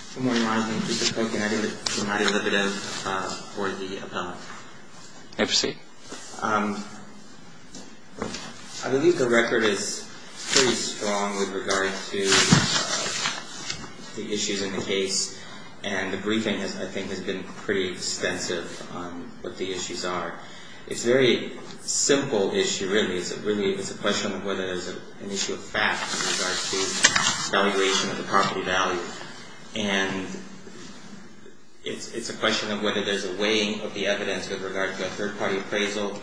I believe the record is pretty strong with regard to the issues in the case and the briefing, I think, has been pretty extensive on what the issues are. It's a very simple issue, really. It's a question of whether there's an issue of fact in regards to the valuation of the property value. And it's a question of whether there's a weighing of the evidence with regard to a third-party appraisal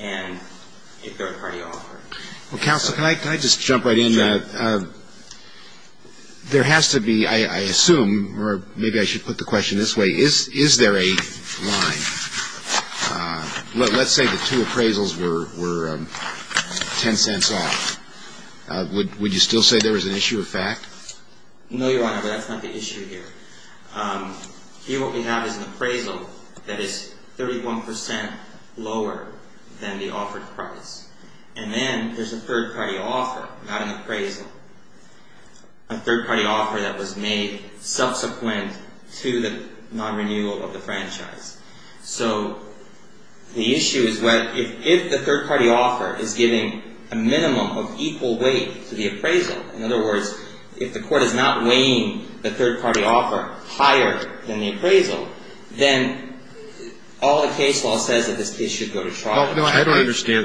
and a third-party offer. Well, Counsel, can I just jump right in? There has to be, I assume, or maybe I should put the question this way, is there a line? Let's say the two appraisals were 10 cents off. Would you still say there was an issue of fact? No, Your Honor, but that's not the issue here. Here what we have is an appraisal that is 31% lower than the offered price. And then there's a third-party offer, not an appraisal, a third-party offer that was made subsequent to the non-renewal of the franchise. So the issue is if the third-party offer is giving a minimum of equal weight to the appraisal, in other words, if the Court is not weighing the third-party offer higher than the appraisal, then all the case law says that this case should go to trial. I understand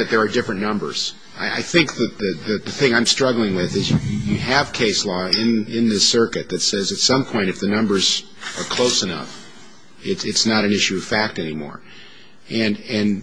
that there are different numbers. I think that the thing I'm struggling with is you have case law in this circuit that says at some point if the numbers are close enough, it's not an issue of fact anymore. And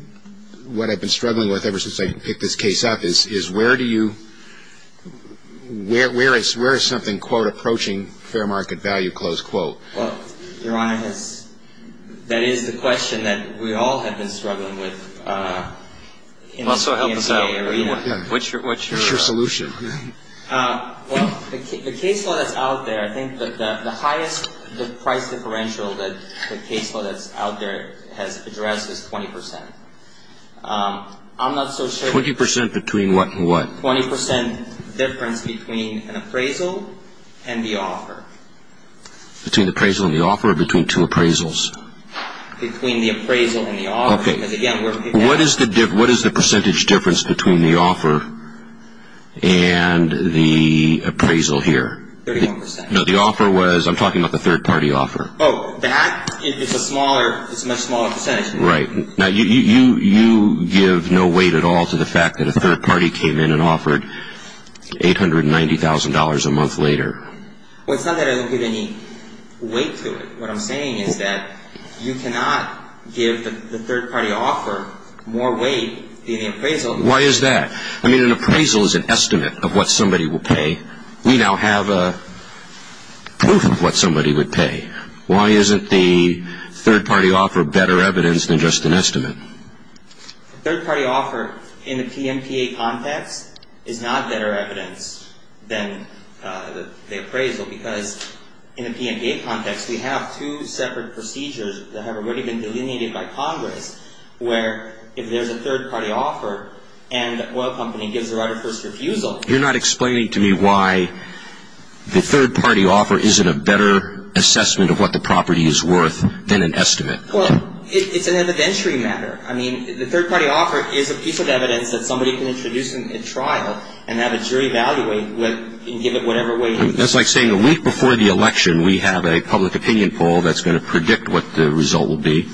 what I've been struggling with ever since I picked this case up is where do you – where is something, quote, approaching fair market value, close quote? Well, Your Honor, that is the question that we all have been struggling with. Also help us out. What's your solution? Well, the case law that's out there, I think that the highest price differential that the case law that's out there has addressed is 20%. I'm not so sure – 20% between what and what? 20% difference between an appraisal and the offer. Between the appraisal and the offer or between two appraisals? Between the appraisal and the offer. What is the percentage difference between the offer and the appraisal here? 31%. No, the offer was – I'm talking about the third party offer. Oh, that? It's a smaller – it's a much smaller percentage. Right. Now, you give no weight at all to the fact that a third party came in and offered $890,000 a month later. Well, it's not that I don't give any weight to it. What I'm saying is that you cannot give the third party offer more weight than the appraisal. Why is that? I mean, an appraisal is an estimate of what somebody will pay. We now have a proof of what somebody would pay. Why isn't the third party offer better evidence than just an estimate? A third party offer in the PMPA context is not better evidence than the appraisal because in the PMPA context, we have two separate procedures that have already been delineated by Congress where if there's a third party offer and the oil company gives the right of first refusal – You're not explaining to me why the third party offer isn't a better assessment of what the property is worth than an estimate. Well, it's an evidentiary matter. I mean, the third party offer is a piece of evidence that somebody can introduce in a trial and have a jury evaluate and give it whatever weight it needs. That's like saying a week before the election, we have a public opinion poll that's going to predict what the result will be.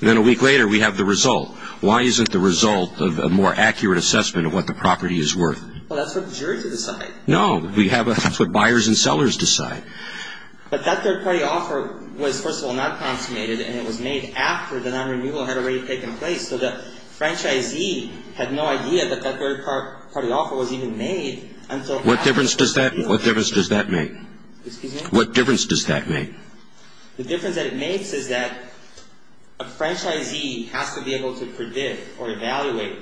Then a week later, we have the result. Why isn't the result a more accurate assessment of what the property is worth? Well, that's for the jury to decide. No, that's what buyers and sellers decide. But that third party offer was, first of all, not consummated and it was made after the non-renewal had already taken place so the franchisee had no idea that that third party offer was even made until after the renewal. What difference does that make? Excuse me? What difference does that make? The difference that it makes is that a franchisee has to be able to predict or evaluate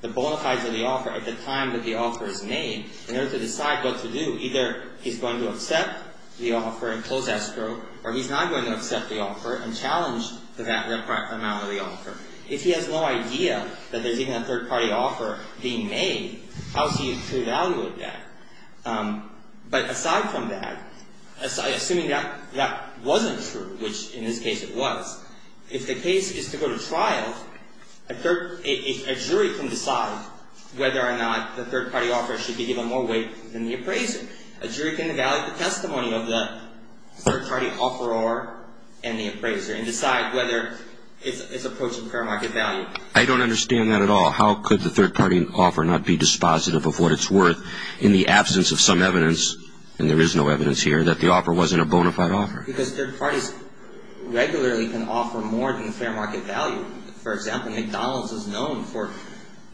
the bona fides of the offer at the time that the offer is made in order to decide what to do. Either he's going to accept the offer and close escrow or he's not going to accept the offer and challenge the amount of the offer. If he has no idea that there's even a third party offer being made, how is he to evaluate that? But aside from that, assuming that that wasn't true, which in this case it was, if the case is to go to trial, a jury can decide whether or not the third party offer should be given more weight than the appraiser. A jury can evaluate the testimony of the third party offeror and the appraiser and decide whether it's approaching fair market value. I don't understand that at all. How could the third party offer not be dispositive of what it's worth in the absence of some evidence, and there is no evidence here, that the offer wasn't a bona fide offer? Because third parties regularly can offer more than fair market value. For example, McDonald's is known for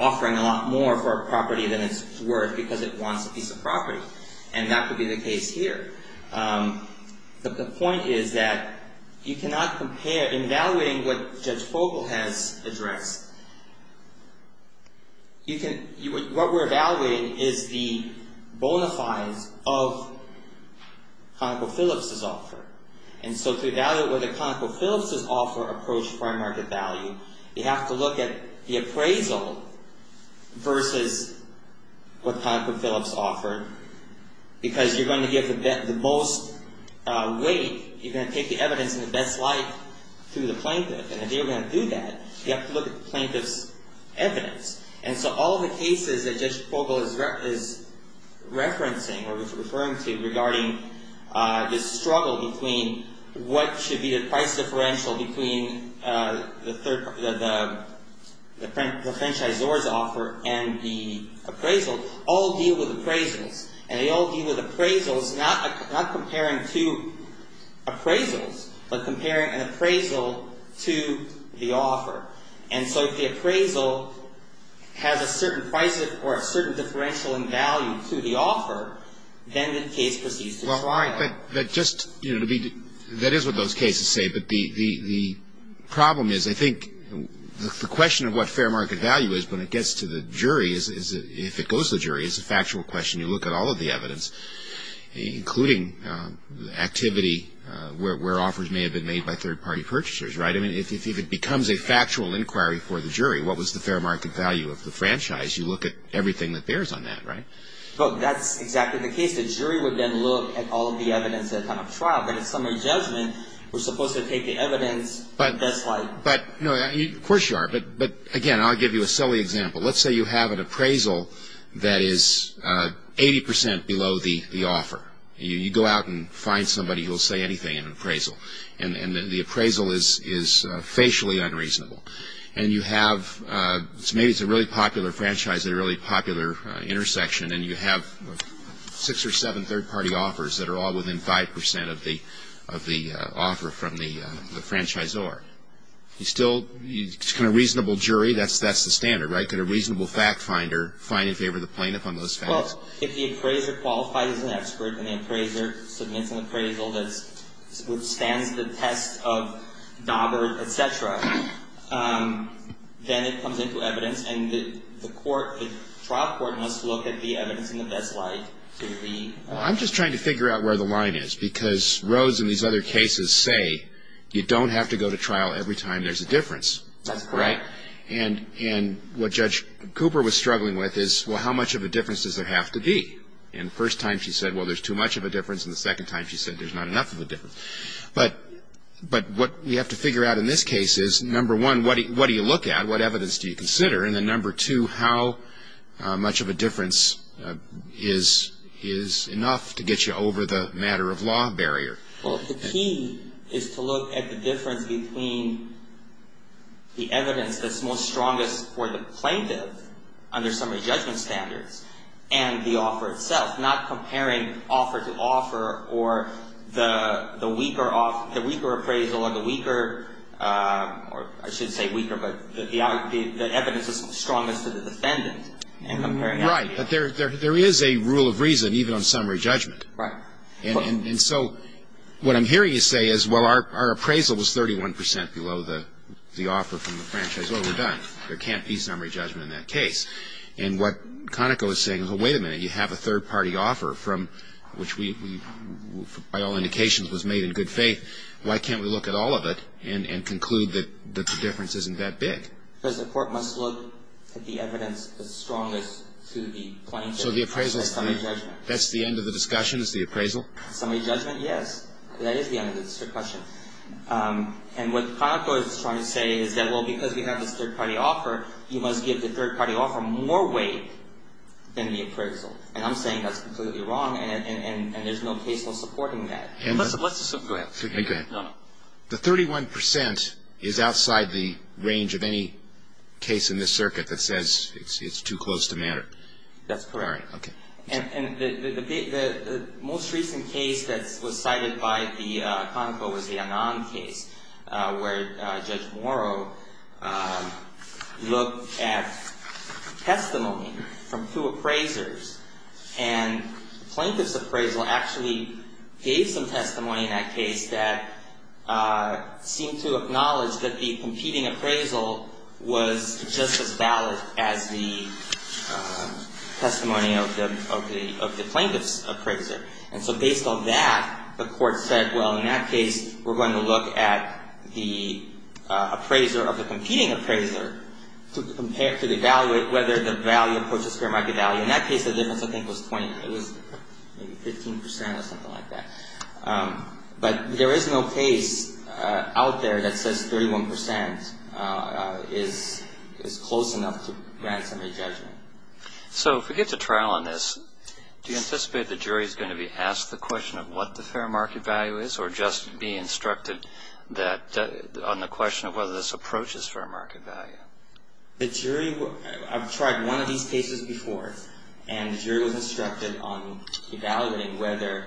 offering a lot more for a property than it's worth because it wants a piece of property. And that would be the case here. The point is that you cannot compare, in evaluating what Judge Fogle has addressed, what we're evaluating is the bona fides of ConocoPhillips' offer. And so to evaluate whether ConocoPhillips' offer approached fair market value, you have to look at the appraisal versus what ConocoPhillips offered. Because you're going to give the most weight, you're going to take the evidence in the best light to the plaintiff. And if you're going to do that, you have to look at the plaintiff's evidence. And so all the cases that Judge Fogle is referencing, or referring to, regarding this struggle between what should be the price differential between the franchisor's offer and the appraisal, all deal with appraisals. And they all deal with appraisals, not comparing two appraisals, but comparing an appraisal to the offer. And so if the appraisal has a certain price or a certain differential in value to the offer, then the case proceeds to trial. Well, all right. But just, you know, that is what those cases say. But the problem is, I think, the question of what fair market value is when it gets to the jury, if it goes to the jury, is a factual question. You look at all of the evidence, including activity where offers may have been made by third-party purchasers, right? I mean, if it becomes a factual inquiry for the jury, what was the fair market value of the franchise? You look at everything that bears on that, right? Look, that's exactly the case. The jury would then look at all of the evidence at the time of trial. But in summary judgment, we're supposed to take the evidence that's like... But, no, of course you are. But, again, I'll give you a silly example. Let's say you have an appraisal that is 80 percent below the offer. You go out and find somebody who will say anything in an appraisal. And the appraisal is facially unreasonable. And you have... Maybe it's a really popular franchise at a really popular intersection. And you have six or seven third-party offers that are all within 5 percent of the offer from the franchisor. You still... It's kind of a reasonable jury. That's the standard, right? Could a reasonable fact finder find in favor of the plaintiff on those facts? Well, if the appraiser qualifies as an expert and the appraiser submits an appraisal that withstands the test of Daubert, et cetera, then it comes into evidence. And the court, the trial court must look at the evidence in the best light to be... Well, I'm just trying to figure out where the line is. Because Rhodes and these other cases say you don't have to go to trial every time there's a difference. That's correct. And what Judge Cooper was struggling with is, well, how much of a difference does there have to be? And the first time she said, well, there's too much of a difference. And the second time she said there's not enough of a difference. But what we have to figure out in this case is, number one, what do you look at? What evidence do you consider? And then, number two, how much of a difference is enough to get you over the matter-of-law barrier? Well, the key is to look at the difference between the evidence that's most strongest for the plaintiff under summary judgment standards and the offer itself, not comparing offer to offer or the weaker appraisal or the weaker, or I should say weaker, but the evidence that's strongest to the defendant. Right. But there is a rule of reason, even on summary judgment. Right. And so what I'm hearing you say is, well, our appraisal was 31 percent below the offer from the franchise. Well, we're done. There can't be summary judgment in that case. And what Conoco is saying is, well, wait a minute. You have a third-party offer from which we, by all indications, was made in good faith. Why can't we look at all of it and conclude that the difference isn't that big? Because the court must look at the evidence that's strongest to the plaintiff under summary judgment. That's the end of the discussion, is the appraisal? Summary judgment, yes. That is the end of the discussion. And what Conoco is trying to say is that, well, because we have this third-party offer, you must give the third-party offer more weight than the appraisal. And I'm saying that's completely wrong, and there's no case for supporting that. Go ahead. Go ahead. No, no. The 31 percent is outside the range of any case in this circuit that says it's too close to matter. That's correct. All right. Okay. And the most recent case that was cited by the Conoco was the Annan case, where Judge Morrow looked at testimony from two appraisers, and the plaintiff's appraisal actually gave some testimony in that case that seemed to acknowledge that the competing appraisal was just as valid as the testimony of the plaintiff's appraiser. And so based on that, the court said, well, in that case, we're going to look at the appraiser of the competing appraiser to compare, to evaluate whether the value of Porteous Fair might be valued. In that case, the difference, I think, was 20. It was maybe 15 percent or something like that. But there is no case out there that says 31 percent is close enough to grant somebody judgment. So if we get to trial on this, do you anticipate the jury is going to be asked the question of what the fair market value is or just be instructed on the question of whether this approach is fair market value? The jury, I've tried one of these cases before, and the jury was instructed on evaluating whether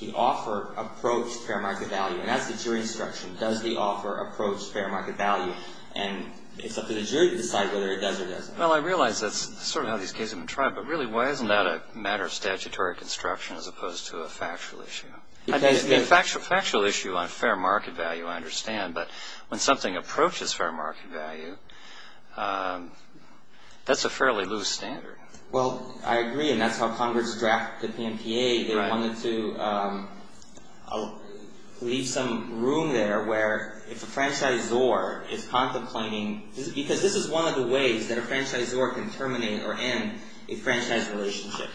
the offer approached fair market value. And that's the jury instruction. Does the offer approach fair market value? And it's up to the jury to decide whether it does or doesn't. Well, I realize that's sort of how these cases have been tried, but really why isn't that a matter of statutory construction as opposed to a factual issue? A factual issue on fair market value I understand, but when something approaches fair market value, that's a fairly loose standard. Well, I agree, and that's how Congress drafted the PNPA. They wanted to leave some room there where if a franchisor is contemplating, because this is one of the ways that a franchisor can terminate or end a franchise relationship.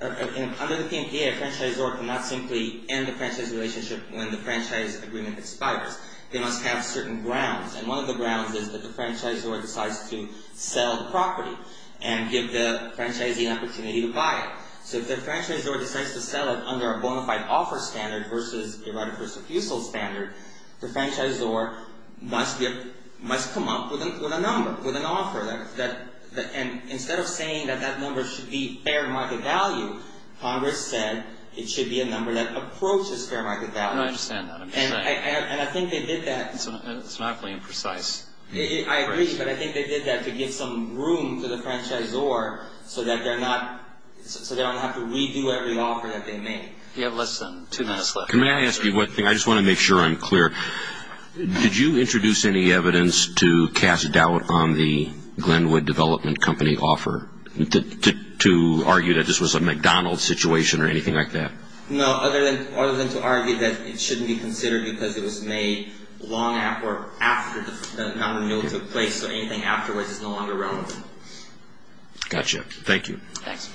Under the PNPA, a franchisor cannot simply end a franchise relationship when the franchise agreement expires. They must have certain grounds, and one of the grounds is that the franchisor decides to sell the property and give the franchisee an opportunity to buy it. So if the franchisor decides to sell it under a bona fide offer standard versus a right of refusal standard, the franchisor must come up with a number, with an offer. And instead of saying that that number should be fair market value, Congress said it should be a number that approaches fair market value. I understand that. And I think they did that. It's not going to be precise. I agree, but I think they did that to give some room to the franchisor so they don't have to redo every offer that they made. You have less than two minutes left. Can I ask you one thing? I just want to make sure I'm clear. Did you introduce any evidence to cast doubt on the Glenwood Development Company offer to argue that this was a McDonald's situation or anything like that? No, other than to argue that it shouldn't be considered because it was made long after the Mountain Mill took place, so anything afterwards is no longer relevant. Got you. Thank you. Thanks.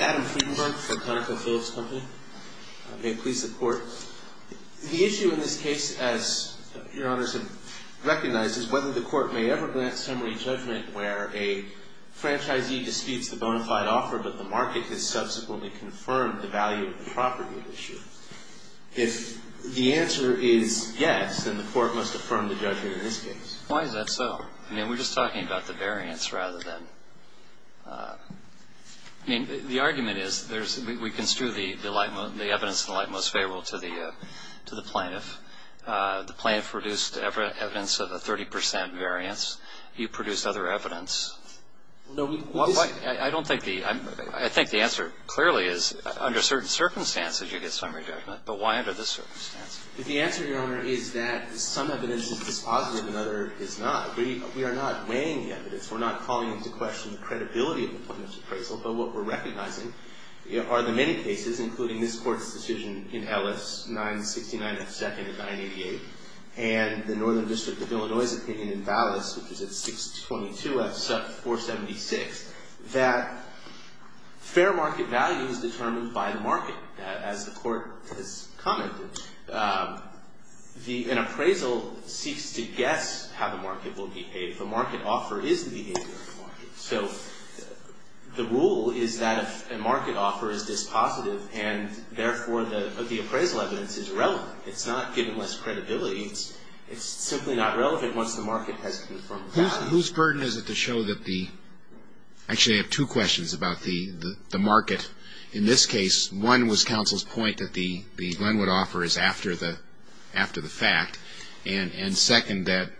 Adam Friedenberg for ConocoPhillips Company. May it please the Court. The issue in this case, as Your Honors have recognized, is whether the Court may ever grant summary judgment where a franchisee disputes the bona fide offer but the market has subsequently confirmed the value of the property at issue. If the answer is yes, then the Court must affirm the judgment in this case. Why is that so? I mean, we're just talking about the variance rather than – I mean, the argument is we construe the evidence in the light most favorable to the plaintiff. The plaintiff produced evidence of a 30 percent variance. You produced other evidence. I don't think the – I think the answer clearly is under certain circumstances you get summary judgment, but why under this circumstance? The answer, Your Honor, is that some evidence is positive and other is not. We are not weighing the evidence. We're not calling into question the credibility of the plaintiff's appraisal, but what we're recognizing are the many cases, including this Court's decision in Ellis, 969 F. 2nd and 988, and the Northern District of Illinois' opinion in Ballas, which is at 622 F. 476, that fair market value is determined by the market. As the Court has commented, an appraisal seeks to guess how the market will behave. The market offer is the behavior of the market. So the rule is that if a market offer is dispositive and, therefore, the appraisal evidence is relevant. It's not given less credibility. It's simply not relevant once the market has confirmed the value. Whose burden is it to show that the – actually, I have two questions about the market. In this case, one was counsel's point that the Glenwood offer is after the fact, and second, that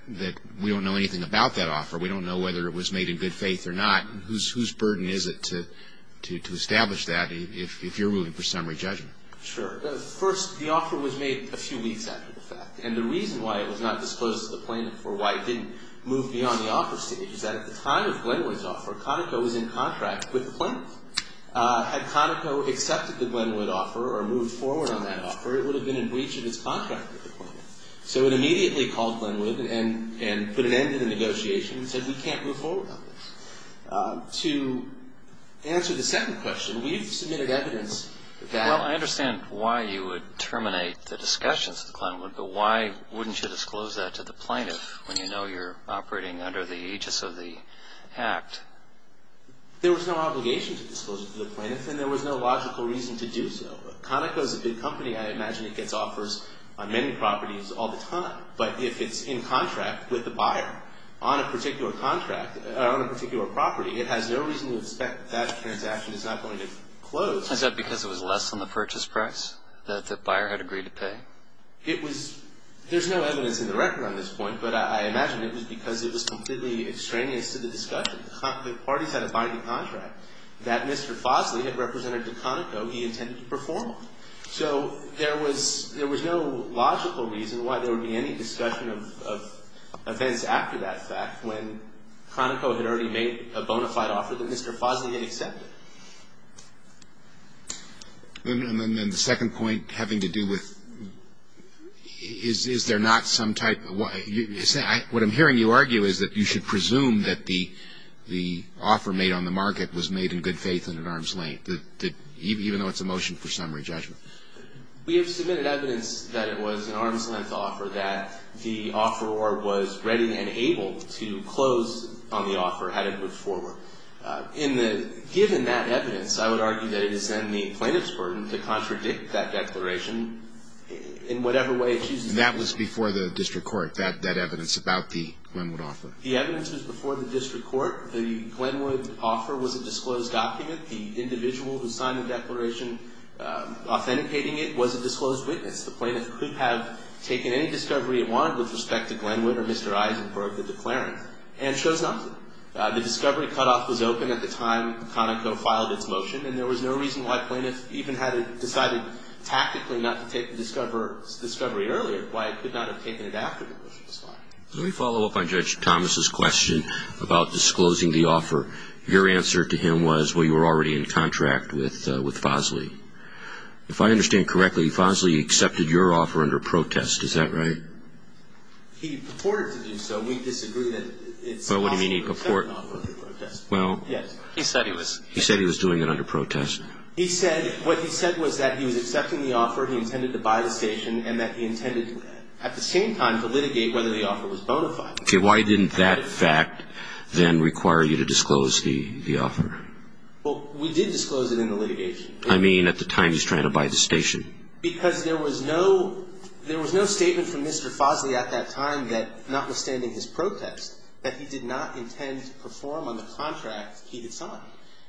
we don't know anything about that offer. We don't know whether it was made in good faith or not. Whose burden is it to establish that if you're ruling for summary judgment? Sure. First, the offer was made a few weeks after the fact, and the reason why it was not disclosed to the plaintiff or why it didn't move beyond the offer stage is that at the time of Glenwood's offer, Conoco was in contract with the plaintiff. Had Conoco accepted the Glenwood offer or moved forward on that offer, it would have been in breach of its contract with the plaintiff. So it immediately called Glenwood and put an end to the negotiation and said, we can't move forward on this. To answer the second question, we've submitted evidence that – Well, I understand why you would terminate the discussions with Glenwood, but why wouldn't you disclose that to the plaintiff when you know you're operating under the aegis of the act? There was no obligation to disclose it to the plaintiff, and there was no logical reason to do so. Conoco is a big company. I imagine it gets offers on many properties all the time. But if it's in contract with the buyer on a particular contract – on a particular property, it has no reason to expect that that transaction is not going to close. Is that because it was less than the purchase price that the buyer had agreed to pay? It was – there's no evidence in the record on this point, but I imagine it was because it was completely extraneous to the discussion. The parties had a binding contract that Mr. Fosley had represented to Conoco he intended to perform. So there was no logical reason why there would be any discussion of events after that fact when Conoco had already made a bona fide offer that Mr. Fosley had accepted. And then the second point having to do with is there not some type of – What I'm hearing you argue is that you should presume that the offer made on the market was made in good faith and at arm's length, even though it's a motion for summary judgment. We have submitted evidence that it was an arm's-length offer, that the offeror was ready and able to close on the offer had it moved forward. Given that evidence, I would argue that it is then the plaintiff's burden to contradict that declaration in whatever way it chooses to do so. And that was before the district court, that evidence about the Glenwood offer? The evidence was before the district court. The Glenwood offer was a disclosed document. The individual who signed the declaration authenticating it was a disclosed witness. The plaintiff could have taken any discovery he wanted with respect to Glenwood or Mr. Eisenberg, the declarant, and chose not to. The discovery cutoff was open at the time Conoco filed its motion, and there was no reason why plaintiffs even had decided tactically not to take the discovery earlier, why it could not have taken it after the motion was filed. Let me follow up on Judge Thomas' question about disclosing the offer. Your answer to him was, well, you were already in contract with Fosley. If I understand correctly, Fosley accepted your offer under protest. Is that right? He purported to do so. We disagree that it's possible to accept an offer under protest. Well, what do you mean he purported? Yes. He said he was. He was doing it under protest. He said what he said was that he was accepting the offer, he intended to buy the station, and that he intended at the same time to litigate whether the offer was bona fide. Okay. Why didn't that fact then require you to disclose the offer? Well, we did disclose it in the litigation. I mean at the time he was trying to buy the station. Because there was no statement from Mr. Fosley at that time that, notwithstanding his protest, that he did not intend to perform on the contract he had signed.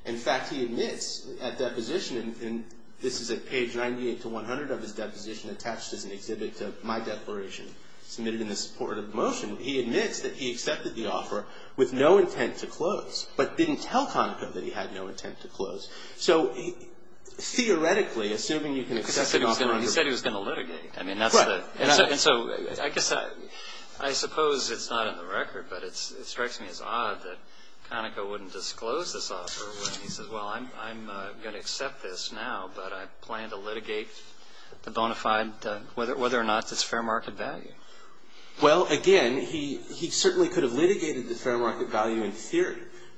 In fact, he admits at deposition, and this is at page 98 to 100 of his deposition attached as an exhibit to my declaration, submitted in the support of motion, he admits that he accepted the offer with no intent to close, but didn't tell Conoco that he had no intent to close. So theoretically, assuming you can accept the offer under protest. Because he said he was going to litigate. Right. And so I guess I suppose it's not in the record, but it strikes me as odd that Conoco wouldn't disclose this offer. He says, well, I'm going to accept this now, but I plan to litigate the bona fide whether or not it's fair market value. Well, again, he certainly could have litigated the fair market value in theory.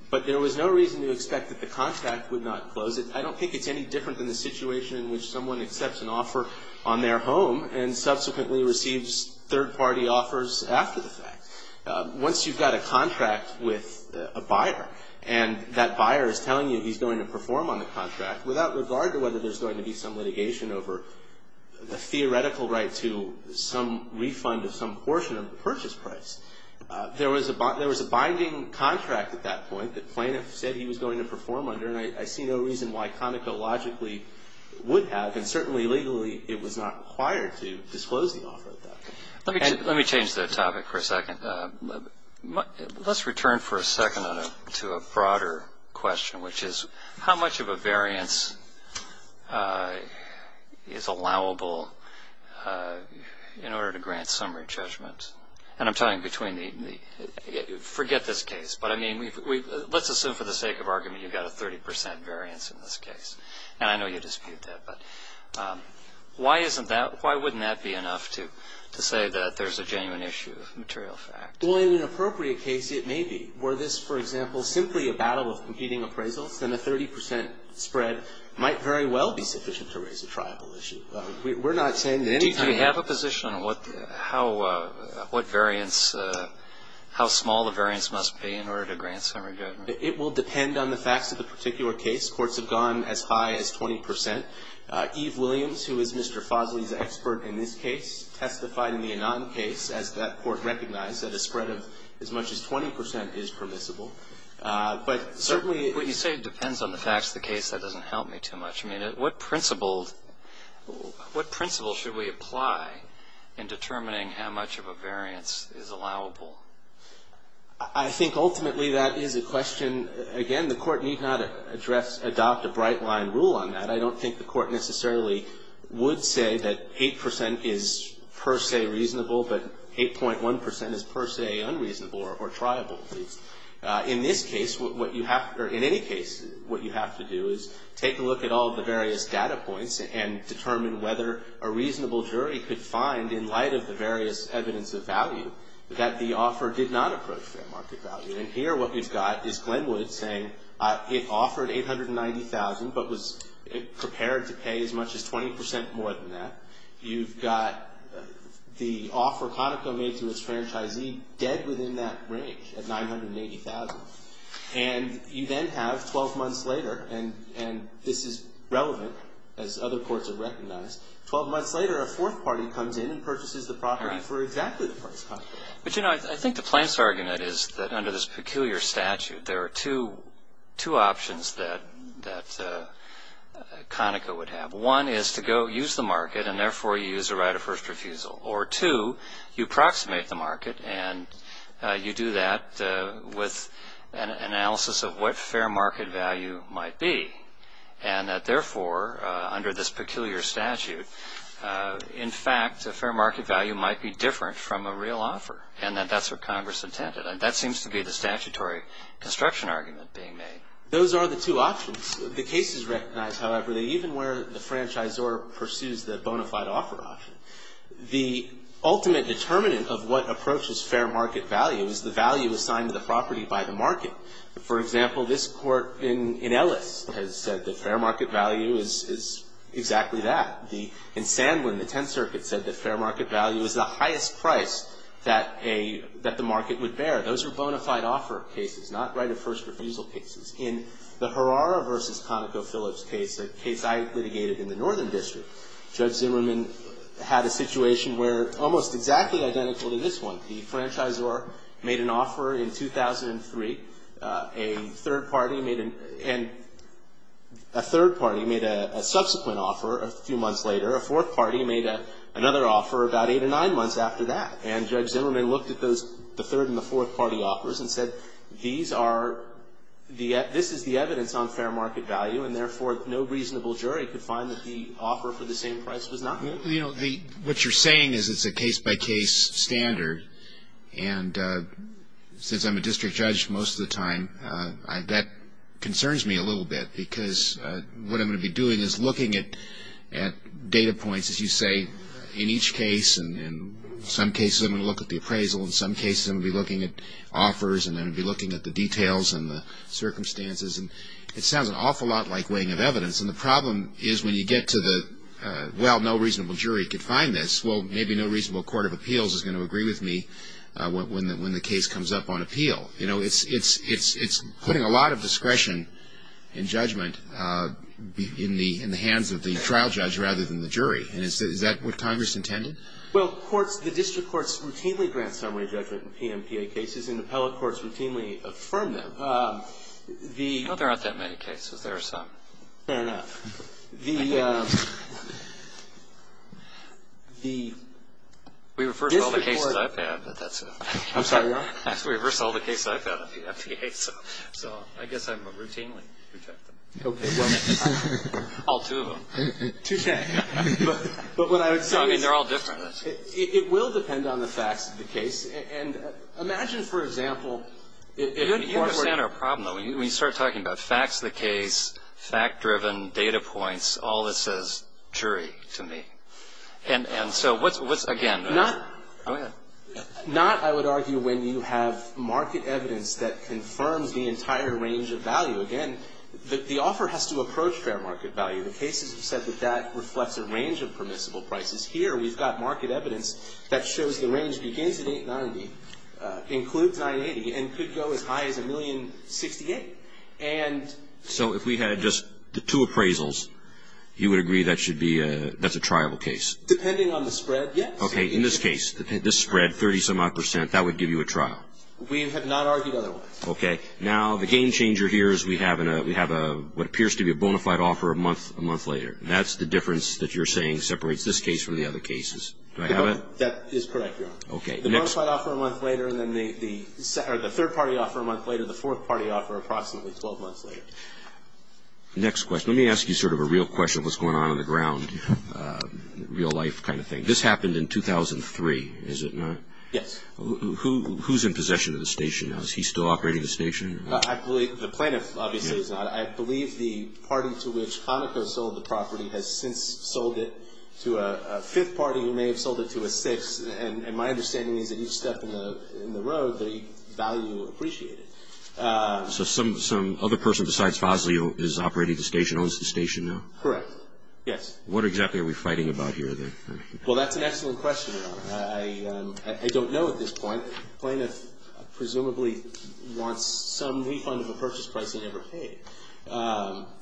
But there was no reason to expect that the contract would not close it. I don't think it's any different than the situation in which someone accepts an offer on their home and subsequently receives third-party offers after the fact. Once you've got a contract with a buyer, and that buyer is telling you he's going to perform on the contract without regard to whether there's going to be some litigation over the theoretical right to some refund of some portion of the purchase price. There was a binding contract at that point that plaintiff said he was going to perform under, and I see no reason why Conoco logically would have, and certainly legally it was not required to disclose the offer at that point. Let me change the topic for a second. Let's return for a second to a broader question, which is how much of a variance is allowable in order to grant summary judgment? And I'm talking between the – forget this case. But, I mean, let's assume for the sake of argument you've got a 30 percent variance in this case. And I know you dispute that. But why isn't that – why wouldn't that be enough to say that there's a genuine issue of material fact? Well, in an appropriate case, it may be. Were this, for example, simply a battle of competing appraisals, then a 30 percent spread might very well be sufficient to raise a tribal issue. We're not saying that any time – Do you have a position on what – how – what variance – how small the variance must be in order to grant summary judgment? It will depend on the facts of the particular case. Courts have gone as high as 20 percent. Eve Williams, who is Mr. Fosley's expert in this case, testified in the Annan case, as that court recognized, that a spread of as much as 20 percent is permissible. But certainly – But you say it depends on the facts of the case. That doesn't help me too much. I mean, what principles – what principles should we apply in determining how much of a variance is allowable? I think ultimately that is a question – I don't think the Court necessarily would say that 8 percent is per se reasonable, but 8.1 percent is per se unreasonable or triable. In this case, what you have – or in any case, what you have to do is take a look at all the various data points and determine whether a reasonable jury could find, in light of the various evidence of value, that the offer did not approach fair market value. And here what we've got is Glenwood saying it offered 890,000 but was prepared to pay as much as 20 percent more than that. You've got the offer Conoco made to its franchisee dead within that range at 980,000. And you then have 12 months later – and this is relevant, as other courts have recognized – 12 months later, a fourth party comes in and purchases the property for exactly the price Conoco offered. But you know, I think the plaintiff's argument is that under this peculiar statute, there are two options that Conoco would have. One is to go use the market, and therefore you use a right of first refusal. Or two, you approximate the market, and you do that with an analysis of what fair market value might be. And that therefore, under this peculiar statute, in fact, a fair market value might be different from a real offer. And that that's what Congress intended. And that seems to be the statutory construction argument being made. Those are the two options. The cases recognize, however, that even where the franchisor pursues the bona fide offer option, the ultimate determinant of what approaches fair market value is the value assigned to the property by the market. For example, this Court in Ellis has said that fair market value is exactly that. In Sandlin, the Tenth Circuit said that fair market value is the highest price that the market would bear. Those are bona fide offer cases, not right of first refusal cases. In the Herrara v. Conoco Phillips case, a case I litigated in the Northern District, Judge Zimmerman had a situation where, almost exactly identical to this one, the franchisor made an offer in 2003. A third party made a subsequent offer a few months later. A fourth party made another offer about eight or nine months after that. And Judge Zimmerman looked at the third and the fourth party offers and said, this is the evidence on fair market value, and therefore, no reasonable jury could find that the offer for the same price was not right. Well, you know, what you're saying is it's a case-by-case standard. And since I'm a district judge most of the time, that concerns me a little bit, because what I'm going to be doing is looking at data points, as you say, in each case. And in some cases, I'm going to look at the appraisal. In some cases, I'm going to be looking at offers, and I'm going to be looking at the details and the circumstances. And it sounds an awful lot like weighing of evidence. And the problem is when you get to the, well, no reasonable jury could find this, well, maybe no reasonable court of appeals is going to agree with me when the case comes up on appeal. You know, it's putting a lot of discretion in judgment in the hands of the trial judge rather than the jury. And is that what Congress intended? Well, courts, the district courts routinely grant summary judgment in PMPA cases, and appellate courts routinely affirm them. No, there aren't that many cases. There are some. Fair enough. The district court. We refer to all the cases I've had, but that's it. I'm sorry, what? We refer to all the cases I've had in PMPA. So I guess I'm routinely rejected. Okay. All two of them. Touche. But what I would say is it will depend on the facts of the case. And imagine, for example. You understand our problem, though. When you start talking about facts of the case, fact-driven, data points, all that says jury to me. And so what's, again? Not, I would argue, when you have market evidence that confirms the entire range of value. Again, the offer has to approach fair market value. The cases have said that that reflects a range of permissible prices. Here we've got market evidence that shows the range begins at $8.90, includes $9.80, and could go as high as $1,068,000. So if we had just the two appraisals, you would agree that's a triable case? Depending on the spread, yes. Okay. In this case, this spread, 30-some-odd percent, that would give you a trial. We have not argued otherwise. Okay. Now, the game-changer here is we have what appears to be a bona fide offer a month later. That's the difference that you're saying separates this case from the other cases. Do I have it? That is correct, Your Honor. Okay. The bona fide offer a month later, and then the third-party offer a month later, the fourth-party offer approximately 12 months later. Next question. Let me ask you sort of a real question, what's going on on the ground, real-life kind of thing. This happened in 2003, is it not? Yes. Who's in possession of the station now? Is he still operating the station? The plaintiff, obviously, is not. I believe the party to which Conoco sold the property has since sold it to a fifth party who may have sold it to a sixth, and my understanding is that each step in the road, the value appreciated. So some other person besides Fosley is operating the station, owns the station now? Correct. Yes. What exactly are we fighting about here, then? Well, that's an excellent question, Your Honor. I don't know at this point. The plaintiff presumably wants some refund of a purchase price he never paid.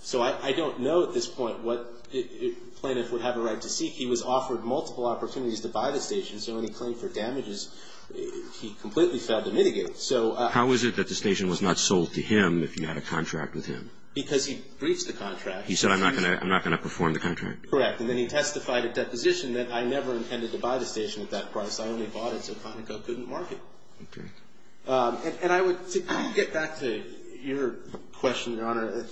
So I don't know at this point what the plaintiff would have a right to seek. He was offered multiple opportunities to buy the station, so when he claimed for damages, he completely failed to mitigate. How is it that the station was not sold to him if you had a contract with him? Because he breached the contract. He said, I'm not going to perform the contract? Correct. And then he testified at deposition that I never intended to buy the station at that price. I only bought it so Conoco couldn't market. Okay. And I would get back to your question, Your Honor.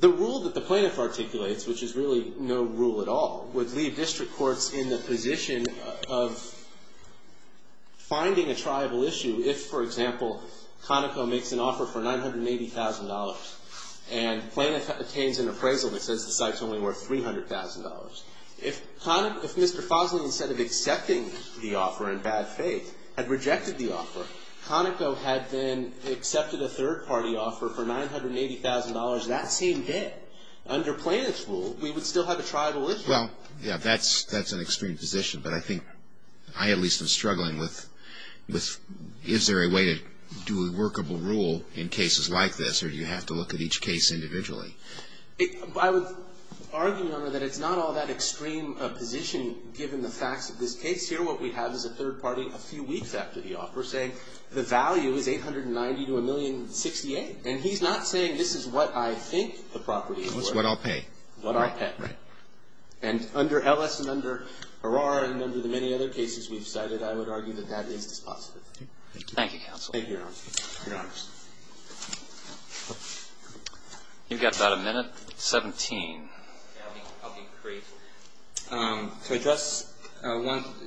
The rule that the plaintiff articulates, which is really no rule at all, would leave district courts in the position of finding a triable issue if, for example, Conoco makes an offer for $980,000 and plaintiff obtains an appraisal that says the site's only worth $300,000. If Mr. Fosley, instead of accepting the offer in bad faith, had rejected the offer, Conoco had then accepted a third-party offer for $980,000 that same day, under plaintiff's rule, we would still have a triable issue. Well, yeah, that's an extreme position. But I think I at least am struggling with is there a way to do a workable rule in cases like this or do you have to look at each case individually? I would argue, Your Honor, that it's not all that extreme a position given the facts of this case here. What we have is a third party a few weeks after the offer saying the value is $890,000 to $1,068,000. And he's not saying this is what I think the property is worth. It's what I'll pay. What I'll pay. Right. And under Ellis and under Arara and under the many other cases we've cited, I would argue that that is dispositive. Thank you, counsel. Thank you, Your Honor. Your Honors. You've got about a minute. 17. I'll be brief. To address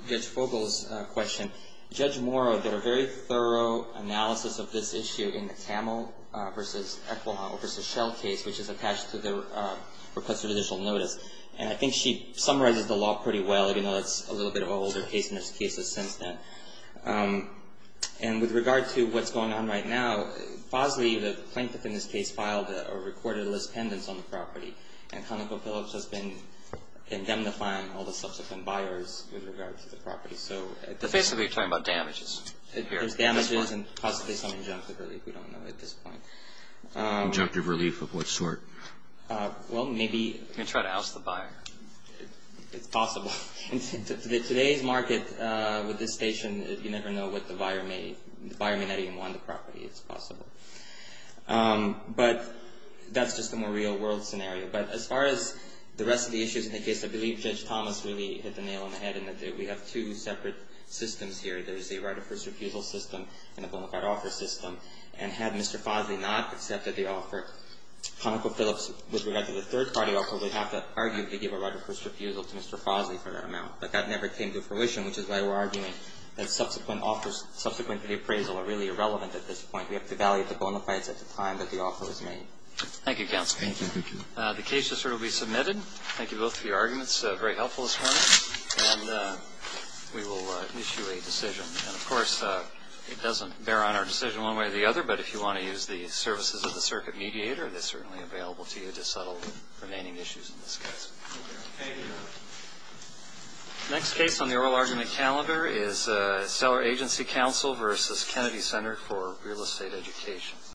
Judge Fogel's question, Judge Morrow did a very thorough analysis of this issue in the Tamil versus Echolau versus Shell case, which is attached to the request for judicial notice. And I think she summarizes the law pretty well, even though it's a little bit of an older case and there's cases since then. And with regard to what's going on right now, Fosley, the plaintiff in this case, filed a recorded list pendants on the property. And ConocoPhillips has been indemnifying all the subsequent buyers with regard to the property. So basically you're talking about damages. There's damages and possibly some injunctive relief. We don't know at this point. Injunctive relief of what sort? Well, maybe. You can try to oust the buyer. It's possible. In today's market, with this station, you never know what the buyer may – the buyer may not even want the property. It's possible. But that's just a more real-world scenario. But as far as the rest of the issues in the case, I believe Judge Thomas really hit the nail on the head. We have two separate systems here. There's a right of first refusal system and a bonafide offer system. And had Mr. Fosley not accepted the offer, ConocoPhillips, with regard to the third-party offer, they'd have to argue if you give a right of first refusal to Mr. Fosley for that amount. But that never came to fruition, which is why we're arguing that subsequent offers – subsequent to the appraisal are really irrelevant at this point. We have to evaluate the bonafides at the time that the offer was made. Thank you, Counsel. Thank you. The case will certainly be submitted. Thank you both for your arguments. Very helpful as far as – and we will issue a decision. And, of course, it doesn't bear on our decision one way or the other, but if you want to use the services of the circuit mediator, they're certainly available to you to settle the remaining issues in this case. Thank you. The next case on the oral argument calendar is Cellar Agency Counsel v. Kennedy Center for Real Estate Education.